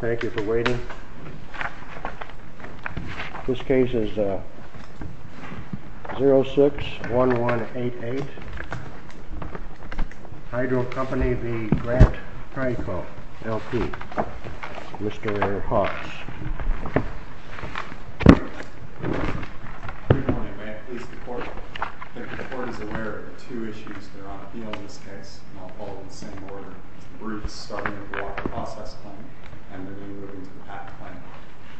Thank you for waiting. This case is 061188, Hydril Company v. Grant Prideco, L.P. Mr. Haas. If the court is aware of the two issues that are on appeal in this case and all fall into the same order, the briefs starting with the Walker Process Claim and then moving to the Path Claim.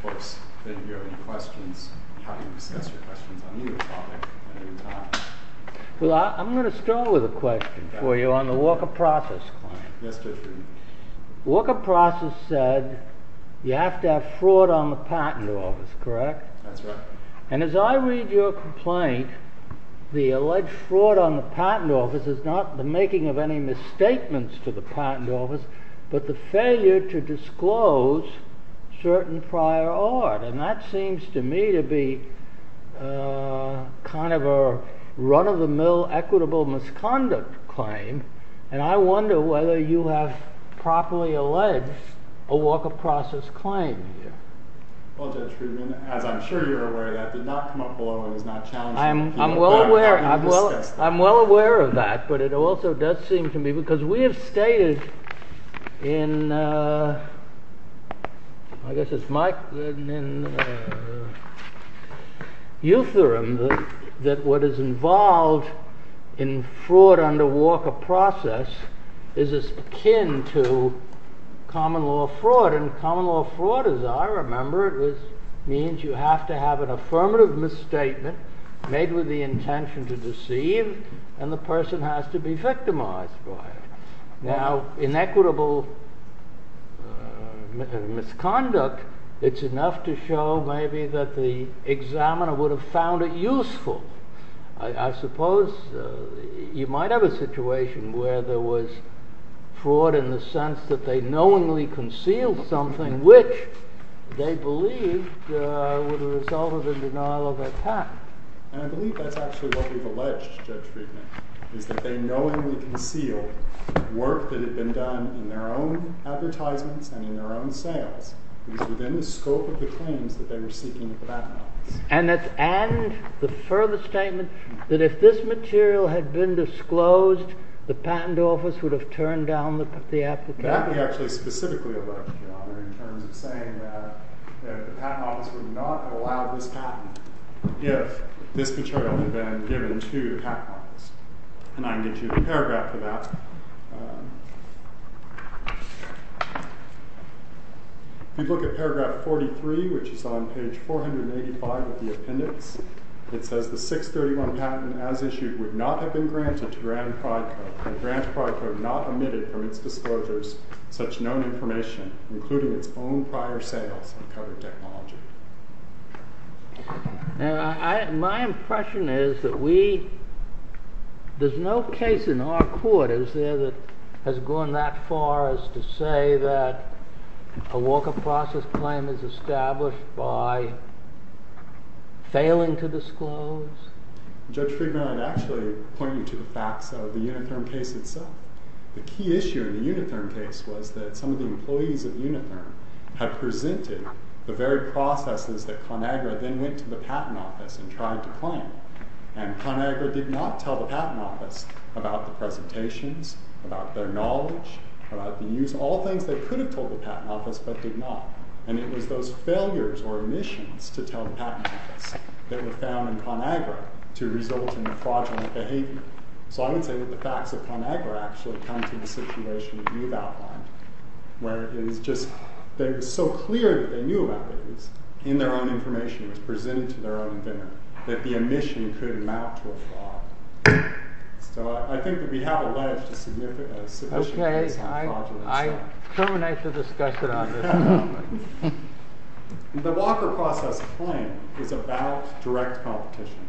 Folks, if you have any questions, I'm happy to discuss your questions on either topic at any time. I'm going to start with a question for you on the Walker Process Claim. Walker Process said you have to have fraud on the patent office, correct? And as I read your complaint, the alleged fraud on the patent office is not the making of any misstatements to the patent office, but the failure to disclose certain prior art. And that seems to me to be kind of a run-of-the-mill equitable misconduct claim. And I wonder whether you have properly alleged a Walker Process Claim here. Well, Judge Friedman, as I'm sure you're aware, that did not come up below and is not challenged in the penal court. As far as I remember, it means you have to have an affirmative misstatement made with the intention to deceive and the person has to be victimized by it. Now, inequitable misconduct, it's enough to show maybe that the examiner would have found it useful. I suppose you might have a situation where there was fraud in the sense that they knowingly concealed something which they believed were the result of a denial of a patent. And I believe that's actually what we've alleged, Judge Friedman, is that they knowingly concealed work that had been done in their own advertisements and in their own sales. It was within the scope of the claims that they were seeking at the patent office. And the further statement that if this material had been disclosed, the patent office would have turned down the application. That we actually specifically allege, Your Honor, in terms of saying that the patent office would not have allowed this patent if this material had been given to the patent office. And I can get you the paragraph for that. If you look at paragraph 43, which is on page 485 of the appendix, it says the 631 patent as issued would not have been granted to Grant and Prodco, and Grant and Prodco have not omitted from its disclosures such known information, including its own prior sales of covered technology. And my impression is that there's no case in our court, is there, that has gone that far as to say that a Walker process claim is established by failing to disclose? Judge Friedman, I'd actually point you to the facts of the Unitherm case itself. The key issue in the Unitherm case was that some of the employees of Unitherm had presented the very processes that ConAgra then went to the patent office and tried to claim. And ConAgra did not tell the patent office about the presentations, about their knowledge, about the use, all things they could have told the patent office but did not. And it was those failures or omissions to tell the patent office that were found in ConAgra to result in the fraudulent behavior. So I would say that the facts of ConAgra actually come to the situation you've outlined, where it was just so clear that they knew about it, it was in their own information, it was presented to their own inventor, that the omission could amount to a fraud. So I think that we have alleged a significant case of fraudulence there. I terminate the discussion on this. The Walker process claim is about direct competition,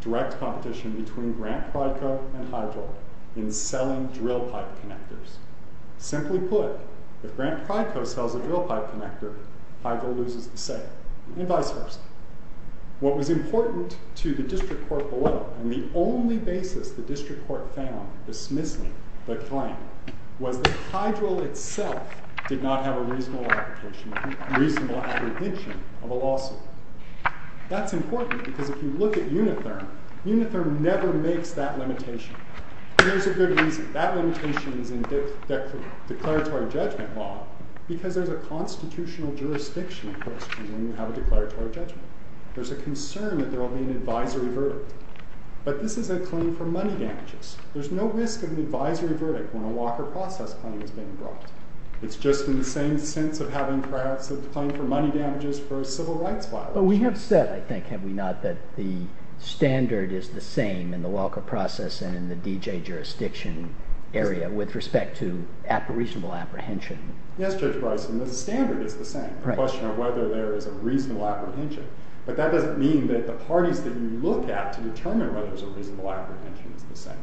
direct competition between Grant-Pryco and Hydro in selling drill pipe connectors. Simply put, if Grant-Pryco sells a drill pipe connector, Hydro loses the sale, and vice versa. What was important to the district court below, and the only basis the district court found dismissing the claim, was that Hydro itself did not have a reasonable application, reasonable apprehension of a lawsuit. That's important, because if you look at Unitherm, Unitherm never makes that limitation. Here's a good reason. That limitation is in declaratory judgment law, because there's a constitutional jurisdiction question when you have a declaratory judgment. There's a concern that there will be an advisory verdict. But this is a claim for money damages. There's no risk of an advisory verdict when a Walker process claim is being brought. It's just in the same sense of having perhaps a claim for money damages for a civil rights violation. But we have said, I think, have we not, that the standard is the same in the Walker process and in the DJ jurisdiction area with respect to reasonable apprehension. Yes, Judge Bryson, the standard is the same. The question of whether there is a reasonable apprehension. But that doesn't mean that the parties that you look at to determine whether there's a reasonable apprehension is the same.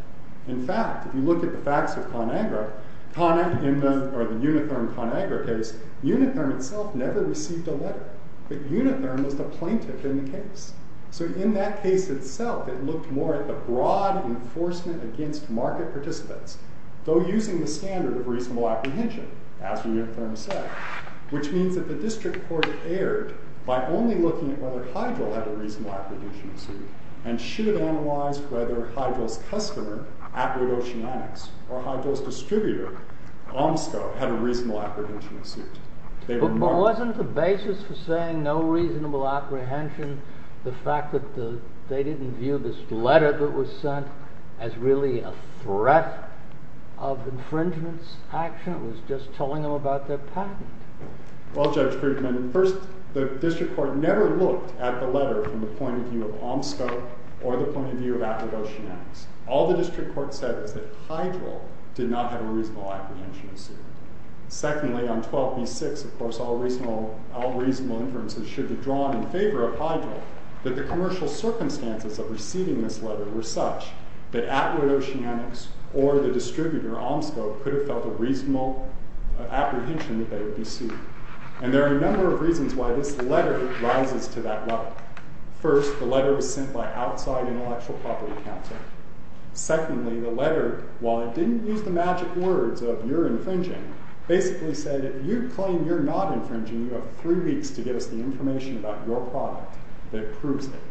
In fact, if you look at the facts of ConAgra, or the Unitherm ConAgra case, Unitherm itself never received a letter. But Unitherm was the plaintiff in the case. So in that case itself, it looked more at the broad enforcement against market participants, though using the standard of reasonable apprehension, as Unitherm said. Which means that the district court erred by only looking at whether Hydeville had a reasonable apprehension suit and should have analyzed whether Hydeville's customer, Atwood Oceanics, or Hydeville's distributor, OMSCO, had a reasonable apprehension suit. But wasn't the basis for saying no reasonable apprehension the fact that they didn't view this letter that was sent as really a threat of infringement's action? It was just telling them about their patent. Well, Judge Krugman, first, the district court never looked at the letter from the point of view of OMSCO or the point of view of Atwood Oceanics. All the district court said was that Hydeville did not have a reasonable apprehension suit. Secondly, on 12b6, of course, all reasonable inferences should be drawn in favor of Hydeville, that the commercial circumstances of receiving this letter were such that Atwood Oceanics or the distributor, OMSCO, could have felt a reasonable apprehension that they would be sued. And there are a number of reasons why this letter rises to that level. First, the letter was sent by outside intellectual property counsel. Secondly, the letter, while it didn't use the magic words of, you're infringing, basically said, if you claim you're not infringing, you have three weeks to give us the information about your product that proves it.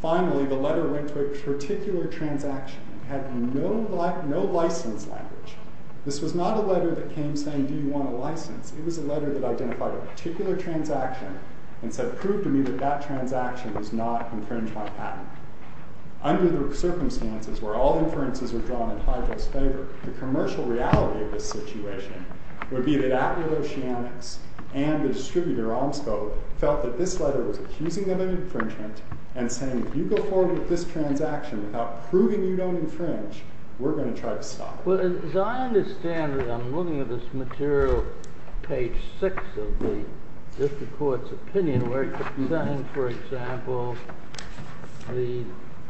Finally, the letter went to a particular transaction that had no license language. This was not a letter that came saying, do you want a license? It was a letter that identified a particular transaction and said, prove to me that that transaction does not infringe my patent. Under the circumstances where all inferences are drawn in Hydeville's favor, the commercial reality of this situation would be that Atwood Oceanics and the distributor, OMSCO, felt that this letter was accusing them of infringement and saying, if you go forward with this transaction without proving you don't infringe, we're going to try to stop you. Well, as I understand it, I'm looking at this material, page six of the district court's opinion, where it's saying, for example, the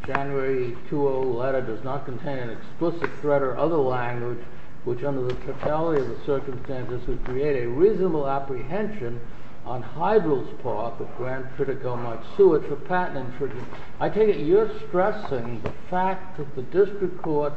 January 2-0 letter does not contain an explicit threat or other language which under the totality of the circumstances would create a reasonable apprehension on Hydeville's part that Grant Pritikow might sue it for patent infringement. I take it you're stressing the fact that the district court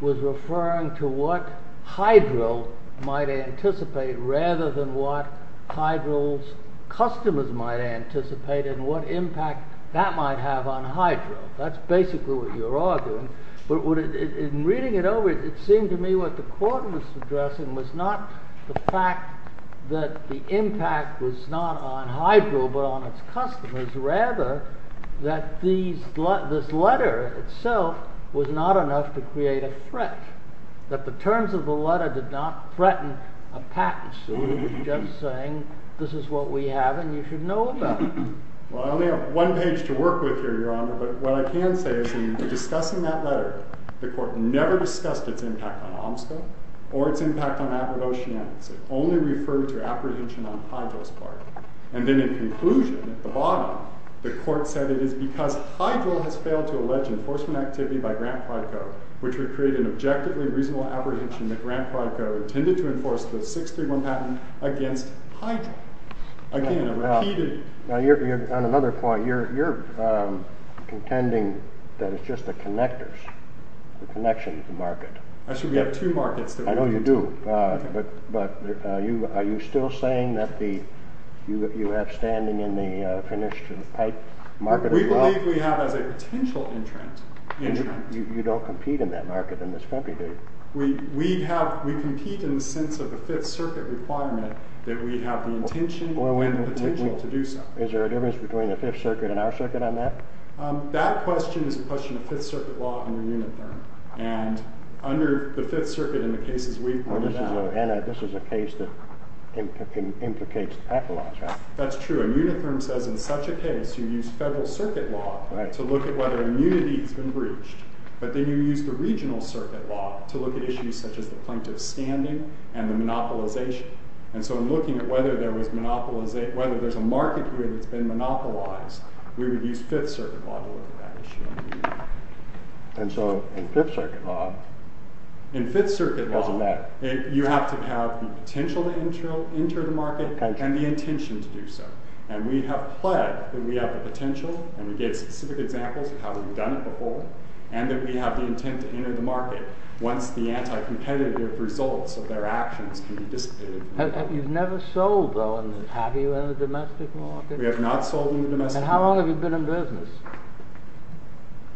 was referring to what Hydeville might anticipate rather than what Hydeville's customers might anticipate and what impact that might have on Hydeville. That's basically what you're arguing, but in reading it over, it seemed to me what the court was addressing was not the fact that the impact was not on Hydeville but on its customers, rather that this letter itself was not enough to create a threat, that the terms of the letter did not threaten a patent suit, it was just saying, this is what we have and you should know about it. Well, I only have one page to work with here, Your Honor, but what I can say is in discussing that letter, the court never discussed its impact on OMSCA or its impact on Aberdechian. It only referred to apprehension on Hydeville's part. And then in conclusion, at the bottom, the court said it is because Hydeville has failed to allege enforcement activity by Grant Pritikow, which would create an objectively reasonable apprehension that Grant Pritikow intended to enforce the 631 patent against Hydeville. On another point, you're contending that it's just the connectors, the connection to the market. Actually, we have two markets. I know you do, but are you still saying that you have standing in the finished pipe market as well? We believe we have as a potential entrant. You don't compete in that market in this country, do you? We compete in the sense of the Fifth Circuit requirement that we have the intention and the potential to do so. Is there a difference between the Fifth Circuit and our circuit on that? That question is a question of Fifth Circuit law under Unitherm. And under the Fifth Circuit in the cases we pointed out— This is a case that implicates pathologs, right? That's true. Unitherm says in such a case you use Federal Circuit law to look at whether immunity has been breached. But then you use the Regional Circuit law to look at issues such as the plaintiff's standing and the monopolization. And so in looking at whether there's a market here that's been monopolized, we would use Fifth Circuit law to look at that issue. And so in Fifth Circuit law— In Fifth Circuit law, you have to have the potential to enter the market and the intention to do so. And we have pledged that we have the potential, and we gave specific examples of how we've done it before, and that we have the intent to enter the market once the anti-competitive results of their actions can be dissipated. You've never sold, though, have you, in the domestic market? We have not sold in the domestic market. And how long have you been in business?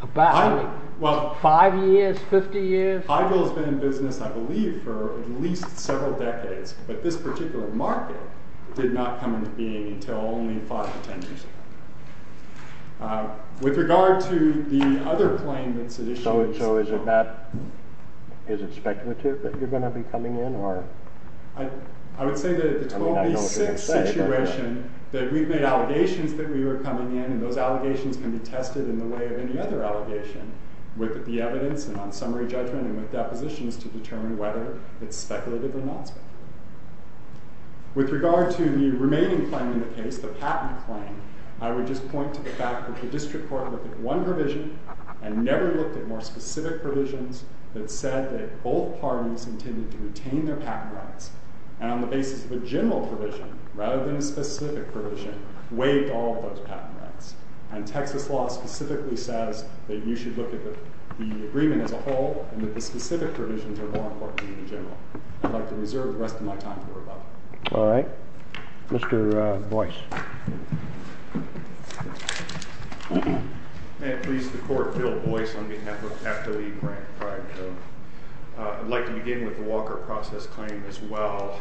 About five years, fifty years? Hyville has been in business, I believe, for at least several decades. But this particular market did not come into being until only five or ten years ago. With regard to the other claim that's at issue— So is it speculative that you're going to be coming in, or— I would say that at the 1286 situation that we've made allegations that we were coming in, and those allegations can be tested in the way of any other allegation, with the evidence and on summary judgment and with depositions to determine whether it's speculative or not speculative. With regard to the remaining claim in the case, the patent claim, I would just point to the fact that the district court looked at one provision and never looked at more specific provisions that said that both parties intended to retain their patent rights, and on the basis of a general provision, rather than a specific provision, waived all of those patent rights. And Texas law specifically says that you should look at the agreement as a whole, and that the specific provisions are more important than the general. I'd like to reserve the rest of my time for rebuttal. All right. Mr. Boyce. May it please the Court, Bill Boyce, on behalf of F. W. Grant, prior to him. I'd like to begin with the Walker process claim as well,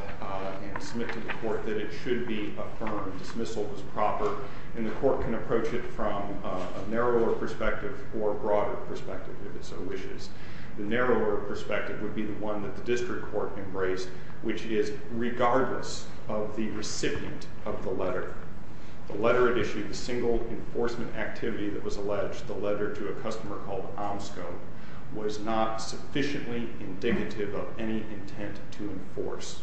and submit to the Court that it should be affirmed, dismissal is proper, and the Court can approach it from a narrower perspective or a broader perspective, if it so wishes. The narrower perspective would be the one that the district court embraced, which is, regardless of the recipient of the letter, the letter it issued, the single enforcement activity that was alleged, the letter to a customer called Omsco, was not sufficiently indignative of any intent to enforce.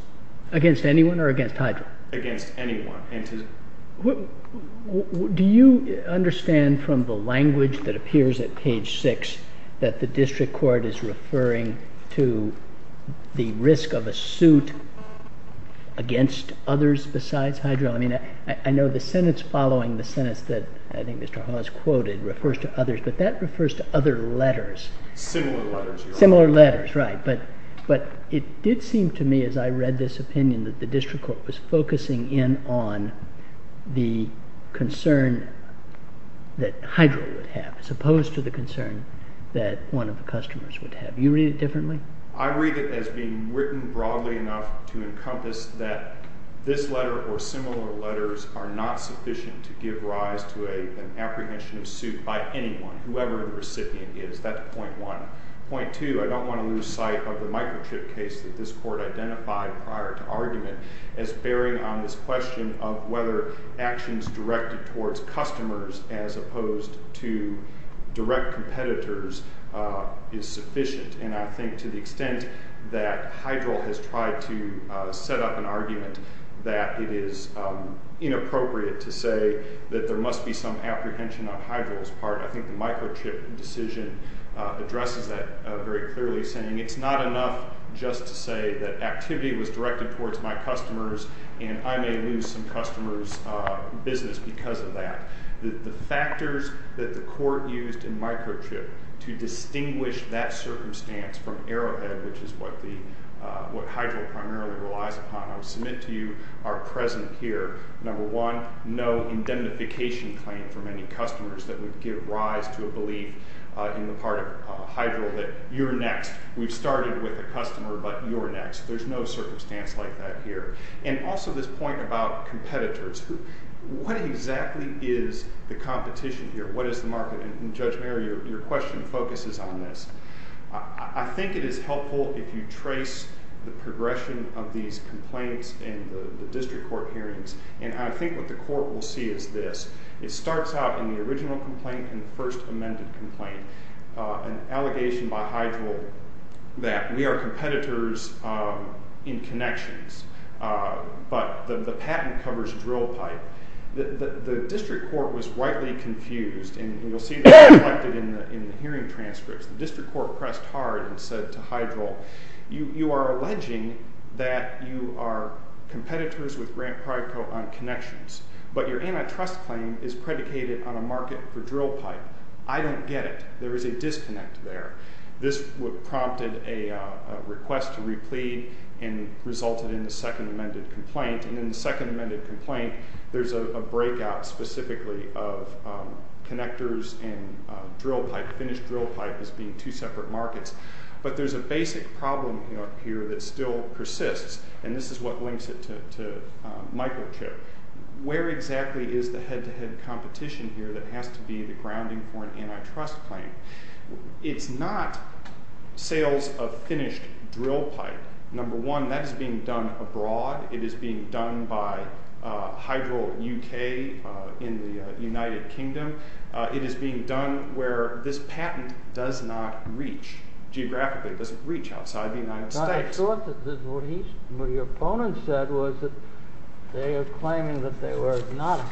Against anyone or against Hydra? Against anyone. Do you understand from the language that appears at page 6 that the district court is referring to the risk of a suit against others besides Hydra? I mean, I know the sentence following the sentence that I think Mr. Hawes quoted refers to others, but that refers to other letters. Similar letters. Similar letters, right. But it did seem to me as I read this opinion that the district court was focusing in on the concern that Hydra would have as opposed to the concern that one of the customers would have. Do you read it differently? I read it as being written broadly enough to encompass that this letter or similar letters are not sufficient to give rise to an apprehension of suit by anyone, whoever the recipient is. That's point one. Point two, I don't want to lose sight of the microchip case that this court identified prior to argument as bearing on this question of whether actions directed towards customers as opposed to direct competitors is sufficient. And I think to the extent that Hydra has tried to set up an argument that it is inappropriate to say that there must be some apprehension on Hydra's part, I think the microchip decision addresses that very clearly, saying it's not enough just to say that activity was directed towards my customers and I may lose some customers' business because of that. The factors that the court used in microchip to distinguish that circumstance from Arrowhead, which is what Hydra primarily relies upon, I would submit to you are present here. Number one, no indemnification claim from any customers that would give rise to a belief in the part of Hydra that you're next. We've started with a customer, but you're next. There's no circumstance like that here. And also this point about competitors. What exactly is the competition here? What is the market? And Judge Mayer, your question focuses on this. I think it is helpful if you trace the progression of these complaints in the district court hearings, and I think what the court will see is this. It starts out in the original complaint and the first amended complaint, an allegation by Hydra that we are competitors in connections, but the patent covers drill pipe. The district court was rightly confused, and you'll see that reflected in the hearing transcripts. The district court pressed hard and said to Hydra, you are alleging that you are competitors with Grant Pride Co. on connections, but your antitrust claim is predicated on a market for drill pipe. I don't get it. There is a disconnect there. This prompted a request to replead and resulted in the second amended complaint, and in the second amended complaint, there's a breakout specifically of connectors and drill pipe, finished drill pipe as being two separate markets. But there's a basic problem here that still persists, and this is what links it to Michael Chip. Where exactly is the head-to-head competition here that has to be the grounding for an antitrust claim? It's not sales of finished drill pipe. Number one, that is being done abroad. It is being done by Hydro UK in the United Kingdom. It is being done where this patent does not reach. Geographically, it doesn't reach outside the United States. I thought that what your opponent said was that they are claiming that they were not a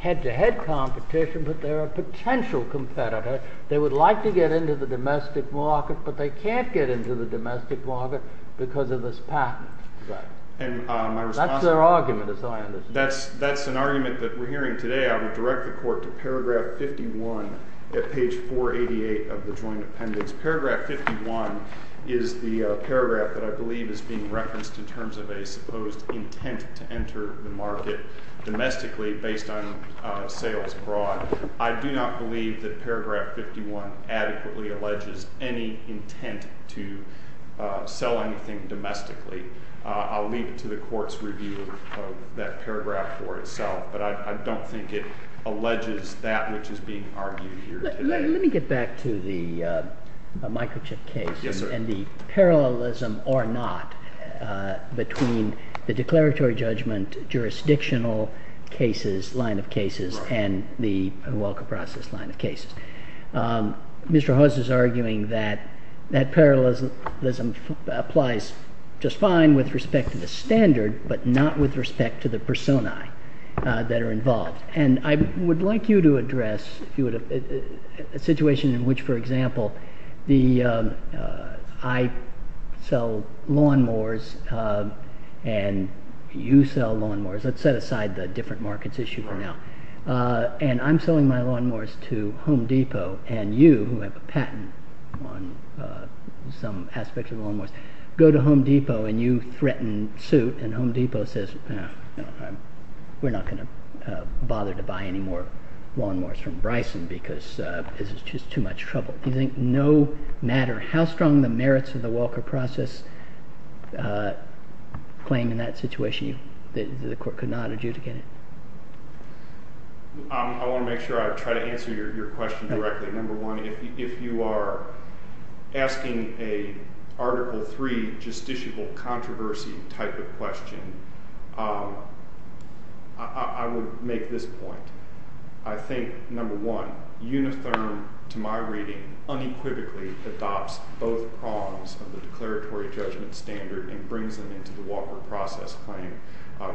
head-to-head competition, but they're a potential competitor. They would like to get into the domestic market, but they can't get into the domestic market because of this patent. That's their argument, is how I understand it. That's an argument that we're hearing today. I would direct the court to paragraph 51 at page 488 of the joint appendix. Paragraph 51 is the paragraph that I believe is being referenced in terms of a supposed intent to enter the market domestically based on sales abroad. I do not believe that paragraph 51 adequately alleges any intent to sell anything domestically. I'll leave it to the court's review of that paragraph for itself, but I don't think it alleges that which is being argued here today. Let me get back to the microchip case and the parallelism or not between the declaratory judgment jurisdictional line of cases and the Welker process line of cases. Mr. Hoss is arguing that that parallelism applies just fine with respect to the standard, but not with respect to the personae that are involved. I would like you to address a situation in which, for example, I sell lawnmowers and you sell lawnmowers. Let's set aside the different markets issue for now. I'm selling my lawnmowers to Home Depot and you, who have a patent on some aspects of lawnmowers, go to Home Depot and you threaten suit. And Home Depot says, we're not going to bother to buy any more lawnmowers from Bryson because this is just too much trouble. Do you think no matter how strong the merits of the Welker process claim in that situation, the court could not adjudicate it? I want to make sure I try to answer your question directly. Number one, if you are asking a Article III justiciable controversy type of question, I would make this point. I think, number one, Unitherm, to my reading, unequivocally adopts both prongs of the declaratory judgment standard and brings them into the Walker process claim.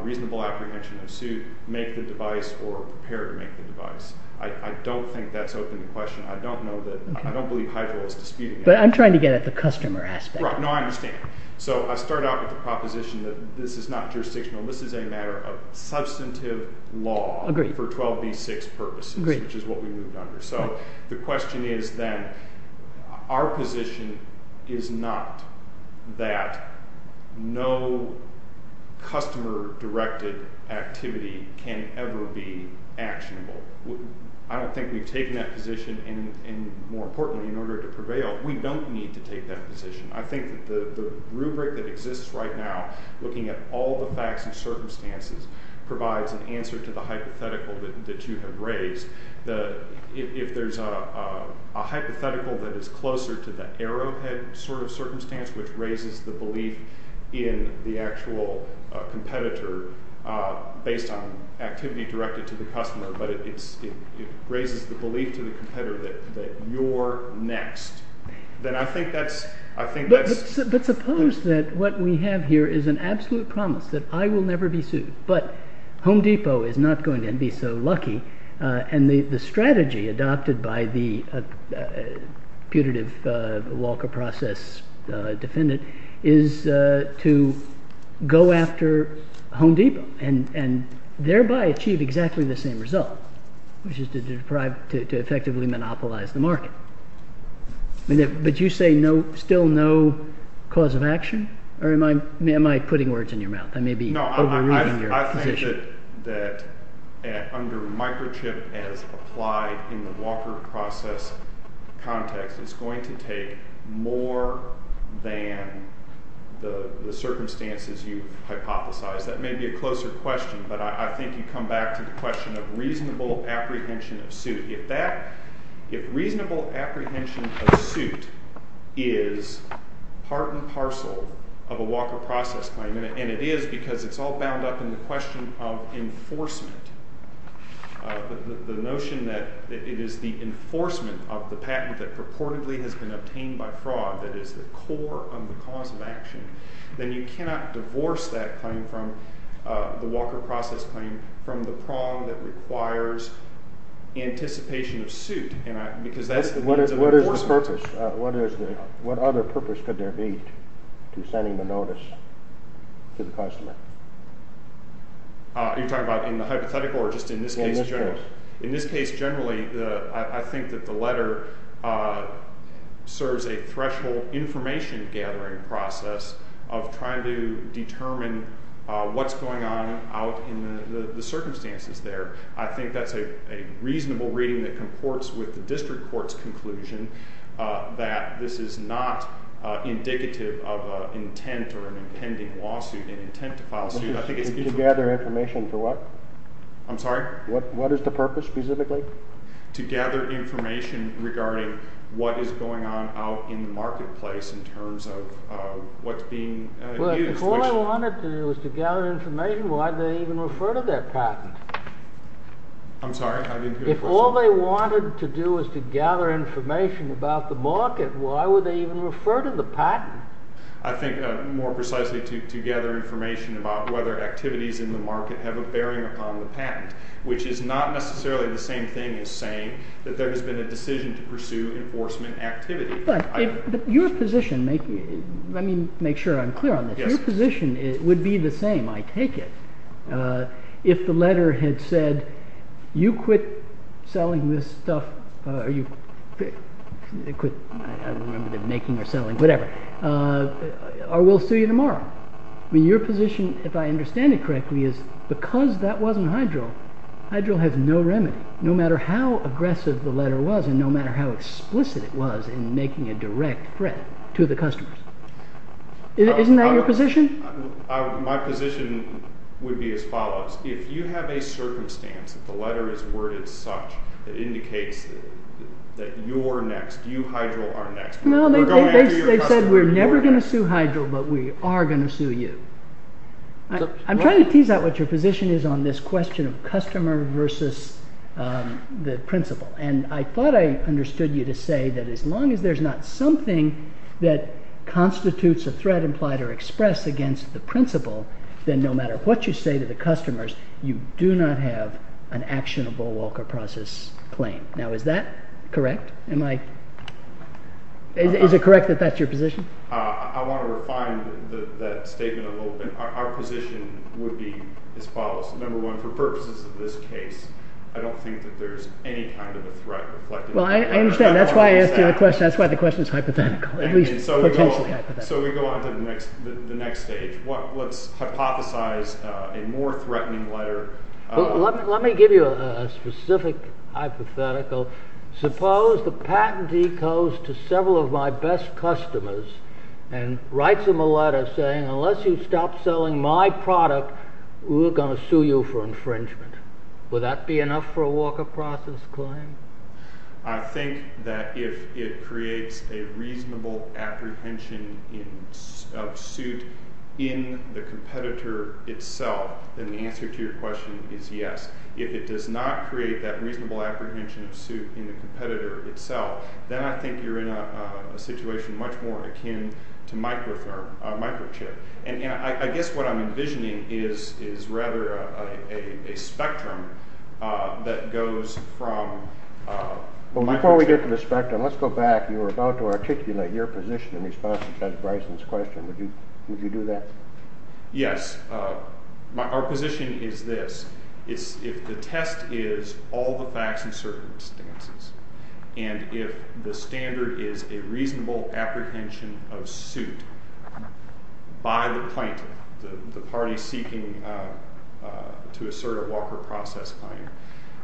Reasonable apprehension of suit, make the device, or prepare to make the device. I don't think that's open to question. I don't know that, I don't believe Hydro is disputing it. But I'm trying to get at the customer aspect. Right, no, I understand. So I start out with the proposition that this is not jurisdictional. This is a matter of substantive law for 12b-6 purposes, which is what we moved under. So the question is then, our position is not that no customer-directed activity can ever be actionable. I don't think we've taken that position, and more importantly, in order to prevail, we don't need to take that position. I think the rubric that exists right now, looking at all the facts and circumstances, provides an answer to the hypothetical that you have raised. If there's a hypothetical that is closer to the arrowhead sort of circumstance, which raises the belief in the actual competitor, based on activity directed to the customer, but it raises the belief to the competitor that you're next. But suppose that what we have here is an absolute promise that I will never be sued, but Home Depot is not going to be so lucky, and the strategy adopted by the putative Walker process defendant is to go after Home Depot, and thereby achieve exactly the same result, which is to effectively monopolize the market. But you say still no cause of action? Or am I putting words in your mouth? I may be overruling your position. The approach that under microchip as applied in the Walker process context is going to take more than the circumstances you hypothesized. That may be a closer question, but I think you come back to the question of reasonable apprehension of suit. If reasonable apprehension of suit is part and parcel of a Walker process claim, and it is because it's all bound up in the question of enforcement, the notion that it is the enforcement of the patent that purportedly has been obtained by fraud that is the core of the cause of action, then you cannot divorce that claim from the Walker process claim from the prong that requires anticipation of suit. What other purpose could there be to sending the notice to the customer? You're talking about in the hypothetical or just in this case? Well, most of course. In this case, generally, I think that the letter serves a threshold information gathering process of trying to determine what's going on out in the circumstances there. I think that's a reasonable reading that comports with the district court's conclusion that this is not indicative of an intent or an impending lawsuit, an intent to file a suit. To gather information for what? I'm sorry? What is the purpose specifically? To gather information regarding what is going on out in the marketplace in terms of what's being used. If all they wanted to do was to gather information, why would they even refer to their patent? I'm sorry, I didn't hear the question. If all they wanted to do was to gather information about the market, why would they even refer to the patent? I think more precisely to gather information about whether activities in the market have a bearing upon the patent, which is not necessarily the same thing as saying that there has been a decision to pursue enforcement activity. Let me make sure I'm clear on this. Your position would be the same, I take it, if the letter had said, you quit making or selling this stuff or we'll sue you tomorrow. Your position, if I understand it correctly, is because that wasn't Hydril, Hydril has no remedy. No matter how aggressive the letter was and no matter how explicit it was in making a direct threat to the customers. Isn't that your position? My position would be as follows. If you have a circumstance that the letter is worded such that indicates that you're next, you Hydril are next. They said we're never going to sue Hydril, but we are going to sue you. I'm trying to tease out what your position is on this question of customer versus the principle. And I thought I understood you to say that as long as there's not something that constitutes a threat implied or expressed against the principle, then no matter what you say to the customers, you do not have an actionable Walker process claim. Now, is that correct? Am I, is it correct that that's your position? I want to refine that statement a little bit. Our position would be as follows. Number one, for purposes of this case, I don't think that there's any kind of a threat. Well, I understand. That's why I asked you a question. That's why the question is hypothetical. So we go on to the next stage. Let's hypothesize a more threatening letter. Let me give you a specific hypothetical. Suppose the patentee goes to several of my best customers and writes them a letter saying, unless you stop selling my product, we're going to sue you for infringement. Would that be enough for a Walker process claim? I think that if it creates a reasonable apprehension of suit in the competitor itself, then the answer to your question is yes. If it does not create that reasonable apprehension of suit in the competitor itself, then I think you're in a situation much more akin to microchip. And I guess what I'm envisioning is rather a spectrum that goes from. Well, before we get to the spectrum, let's go back. You were about to articulate your position in response to President Bryson's question. Would you do that? Yes. Our position is this. If the test is all the facts and circumstances, and if the standard is a reasonable apprehension of suit by the plaintiff, the party seeking to assert a Walker process claim,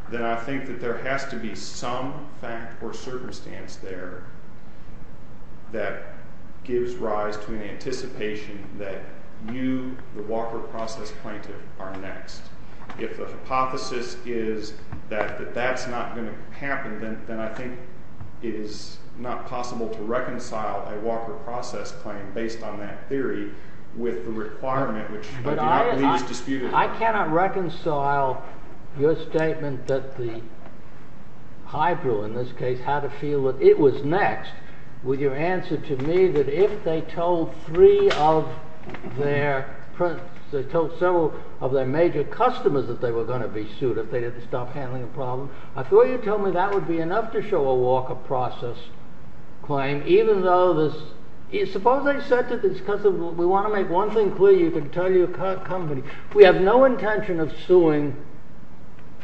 then I think that there has to be some fact or circumstance there that gives rise to an anticipation that you, the Walker process plaintiff, are next. If the hypothesis is that that's not going to happen, then I think it is not possible to reconcile a Walker process claim based on that theory with the requirement, which I do not believe is disputed. I cannot reconcile your statement that the Hydro, in this case, had a feel that it was next with your answer to me that if they told three of their, they told several of their major customers that they were going to be sued if they didn't stop handling the problem. I thought you told me that would be enough to show a Walker process claim, suppose I said to this customer, we want to make one thing clear, you can tell your company, we have no intention of suing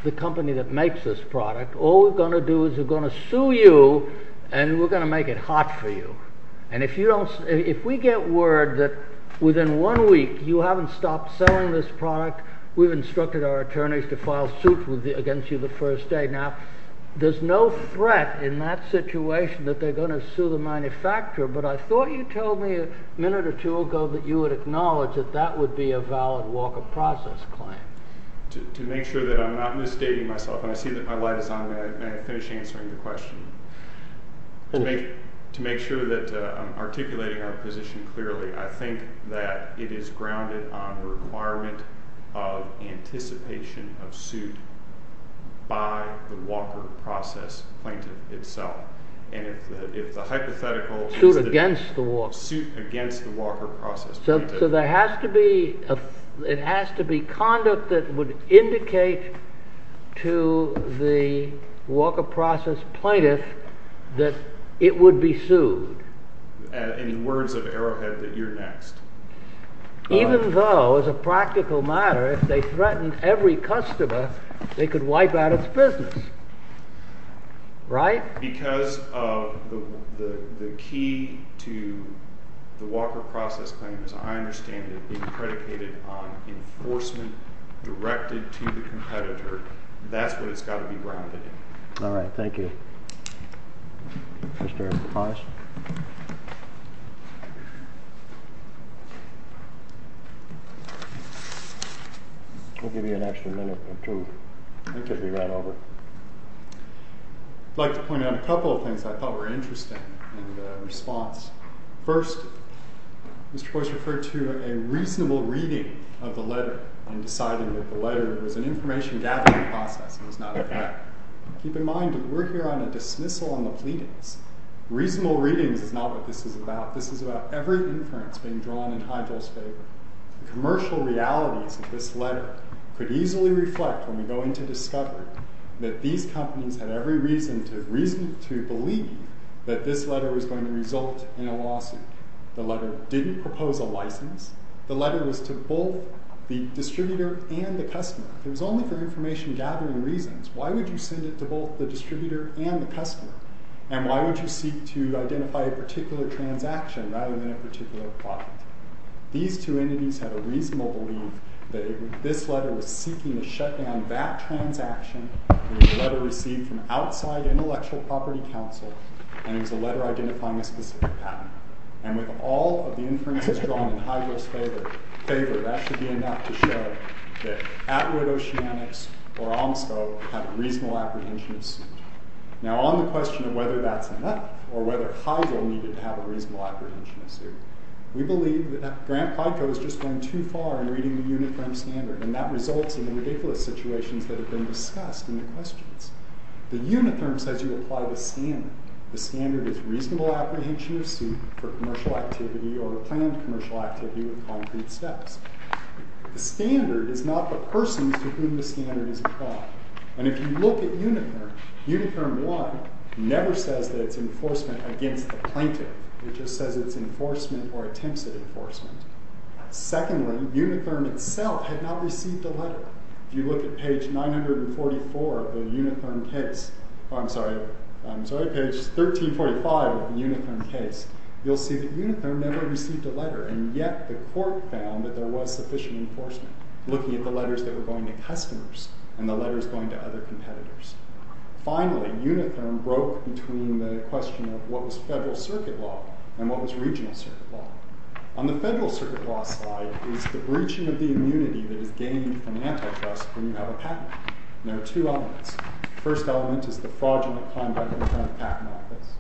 the company that makes this product. All we're going to do is we're going to sue you and we're going to make it hot for you. And if we get word that within one week you haven't stopped selling this product, we've instructed our attorneys to file suits against you the first day. Now, there's no threat in that situation that they're going to sue the manufacturer, but I thought you told me a minute or two ago that you would acknowledge that that would be a valid Walker process claim. To make sure that I'm not misstating myself, and I see that my light is on, may I finish answering your question? To make sure that I'm articulating our position clearly, I think that it is grounded on the requirement of anticipation of suit by the Walker process plaintiff itself. And if the hypothetical… Suit against the Walker process plaintiff. So there has to be, it has to be conduct that would indicate to the Walker process plaintiff that it would be sued. And in words of Arrowhead, that you're next. Even though, as a practical matter, if they threatened every customer, they could wipe out its business, right? Because of the key to the Walker process claim, as I understand it, being predicated on enforcement directed to the competitor. That's what it's got to be grounded in. All right, thank you. Mr. Price? I'll give you an extra minute or two. I think it'll be right over. I'd like to point out a couple of things I thought were interesting in the response. First, Mr. Price referred to a reasonable reading of the letter and deciding that the letter was an information gathering process and was not a threat. Keep in mind that we're here on a dismissal on the pleadings. Reasonable readings is not what this is about. This is about every inference being drawn in Heidel's favor. The commercial realities of this letter could easily reflect when we go into discovery that these companies had every reason to believe that this letter was going to result in a lawsuit. The letter didn't propose a license. The letter was to both the distributor and the customer. It was only for information gathering reasons. Why would you send it to both the distributor and the customer? And why would you seek to identify a particular transaction rather than a particular product? These two entities had a reasonable belief that this letter was seeking to shut down that transaction. It was a letter received from outside intellectual property counsel, and it was a letter identifying a specific patent. And with all of the inferences drawn in Heidel's favor, that should be enough to show that Atwood Oceanics or Omscope had a reasonable apprehension of suit. Now, on the question of whether that's enough or whether Heidel needed to have a reasonable apprehension of suit, we believe that Grant Pico is just going too far in reading the Unitherm standard, and that results in the ridiculous situations that have been discussed in the questions. The Unitherm says you apply the standard. The standard is reasonable apprehension of suit for commercial activity or planned commercial activity with concrete steps. The standard is not the persons to whom the standard is applied. And if you look at Unitherm, Unitherm 1 never says that it's enforcement against the plaintiff. It just says it's enforcement or attempts at enforcement. Secondly, Unitherm itself had not received a letter. If you look at page 944 of the Unitherm case, I'm sorry, page 1345 of the Unitherm case, you'll see that Unitherm never received a letter, and yet the court found that there was sufficient enforcement, looking at the letters that were going to customers and the letters going to other competitors. Finally, Unitherm broke between the question of what was federal circuit law and what was regional circuit law. On the federal circuit law side is the breaching of the immunity that is gained from antitrust when you have a patent. And there are two elements. The first element is the fraudulent conduct in front of the patent office.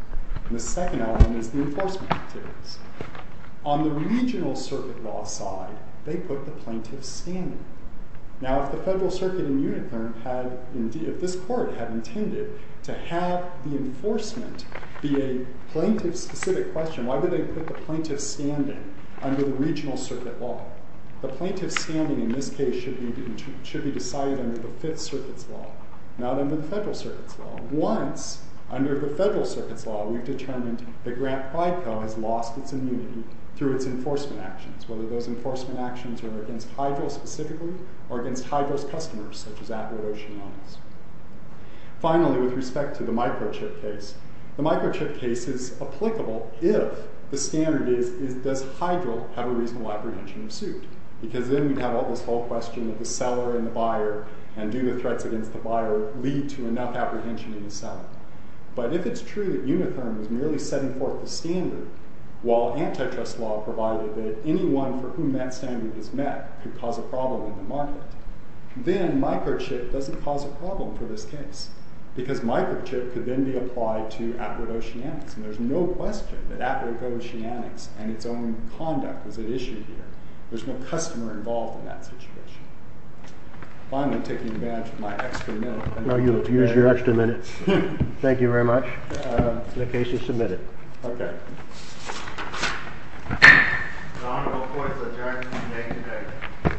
And the second element is the enforcement activities. On the regional circuit law side, they put the plaintiff standing. Now, if the federal circuit in Unitherm had indeed, if this court had intended to have the enforcement be a plaintiff-specific question, why would they put the plaintiff standing under the regional circuit law? The plaintiff standing, in this case, should be decided under the fifth circuit's law, not under the federal circuit's law. Once, under the federal circuit's law, we've determined that Grant-Fico has lost its immunity through its enforcement actions, whether those enforcement actions were against Hydro specifically or against Hydro's customers, such as Atwood Ocean Mines. Finally, with respect to the microchip case, the microchip case is applicable if the standard is, does Hydro have a reasonable apprehension of suit? Because then we'd have all this whole question of the seller and the buyer, and do the threats against the buyer lead to enough apprehension in the seller? But if it's true that Unitherm is merely setting forth the standard, while antitrust law provided that anyone for whom that standard is met could cause a problem in the market, then microchip doesn't cause a problem for this case, because microchip could then be applied to Atwood Oceanics, and there's no question that Atwood Oceanics and its own conduct was at issue here. There's no customer involved in that situation. Finally, taking advantage of my extra minute. No, you'll use your extra minute. Thank you very much. The case is submitted. Okay. The Honorable Court's adjournment is made today.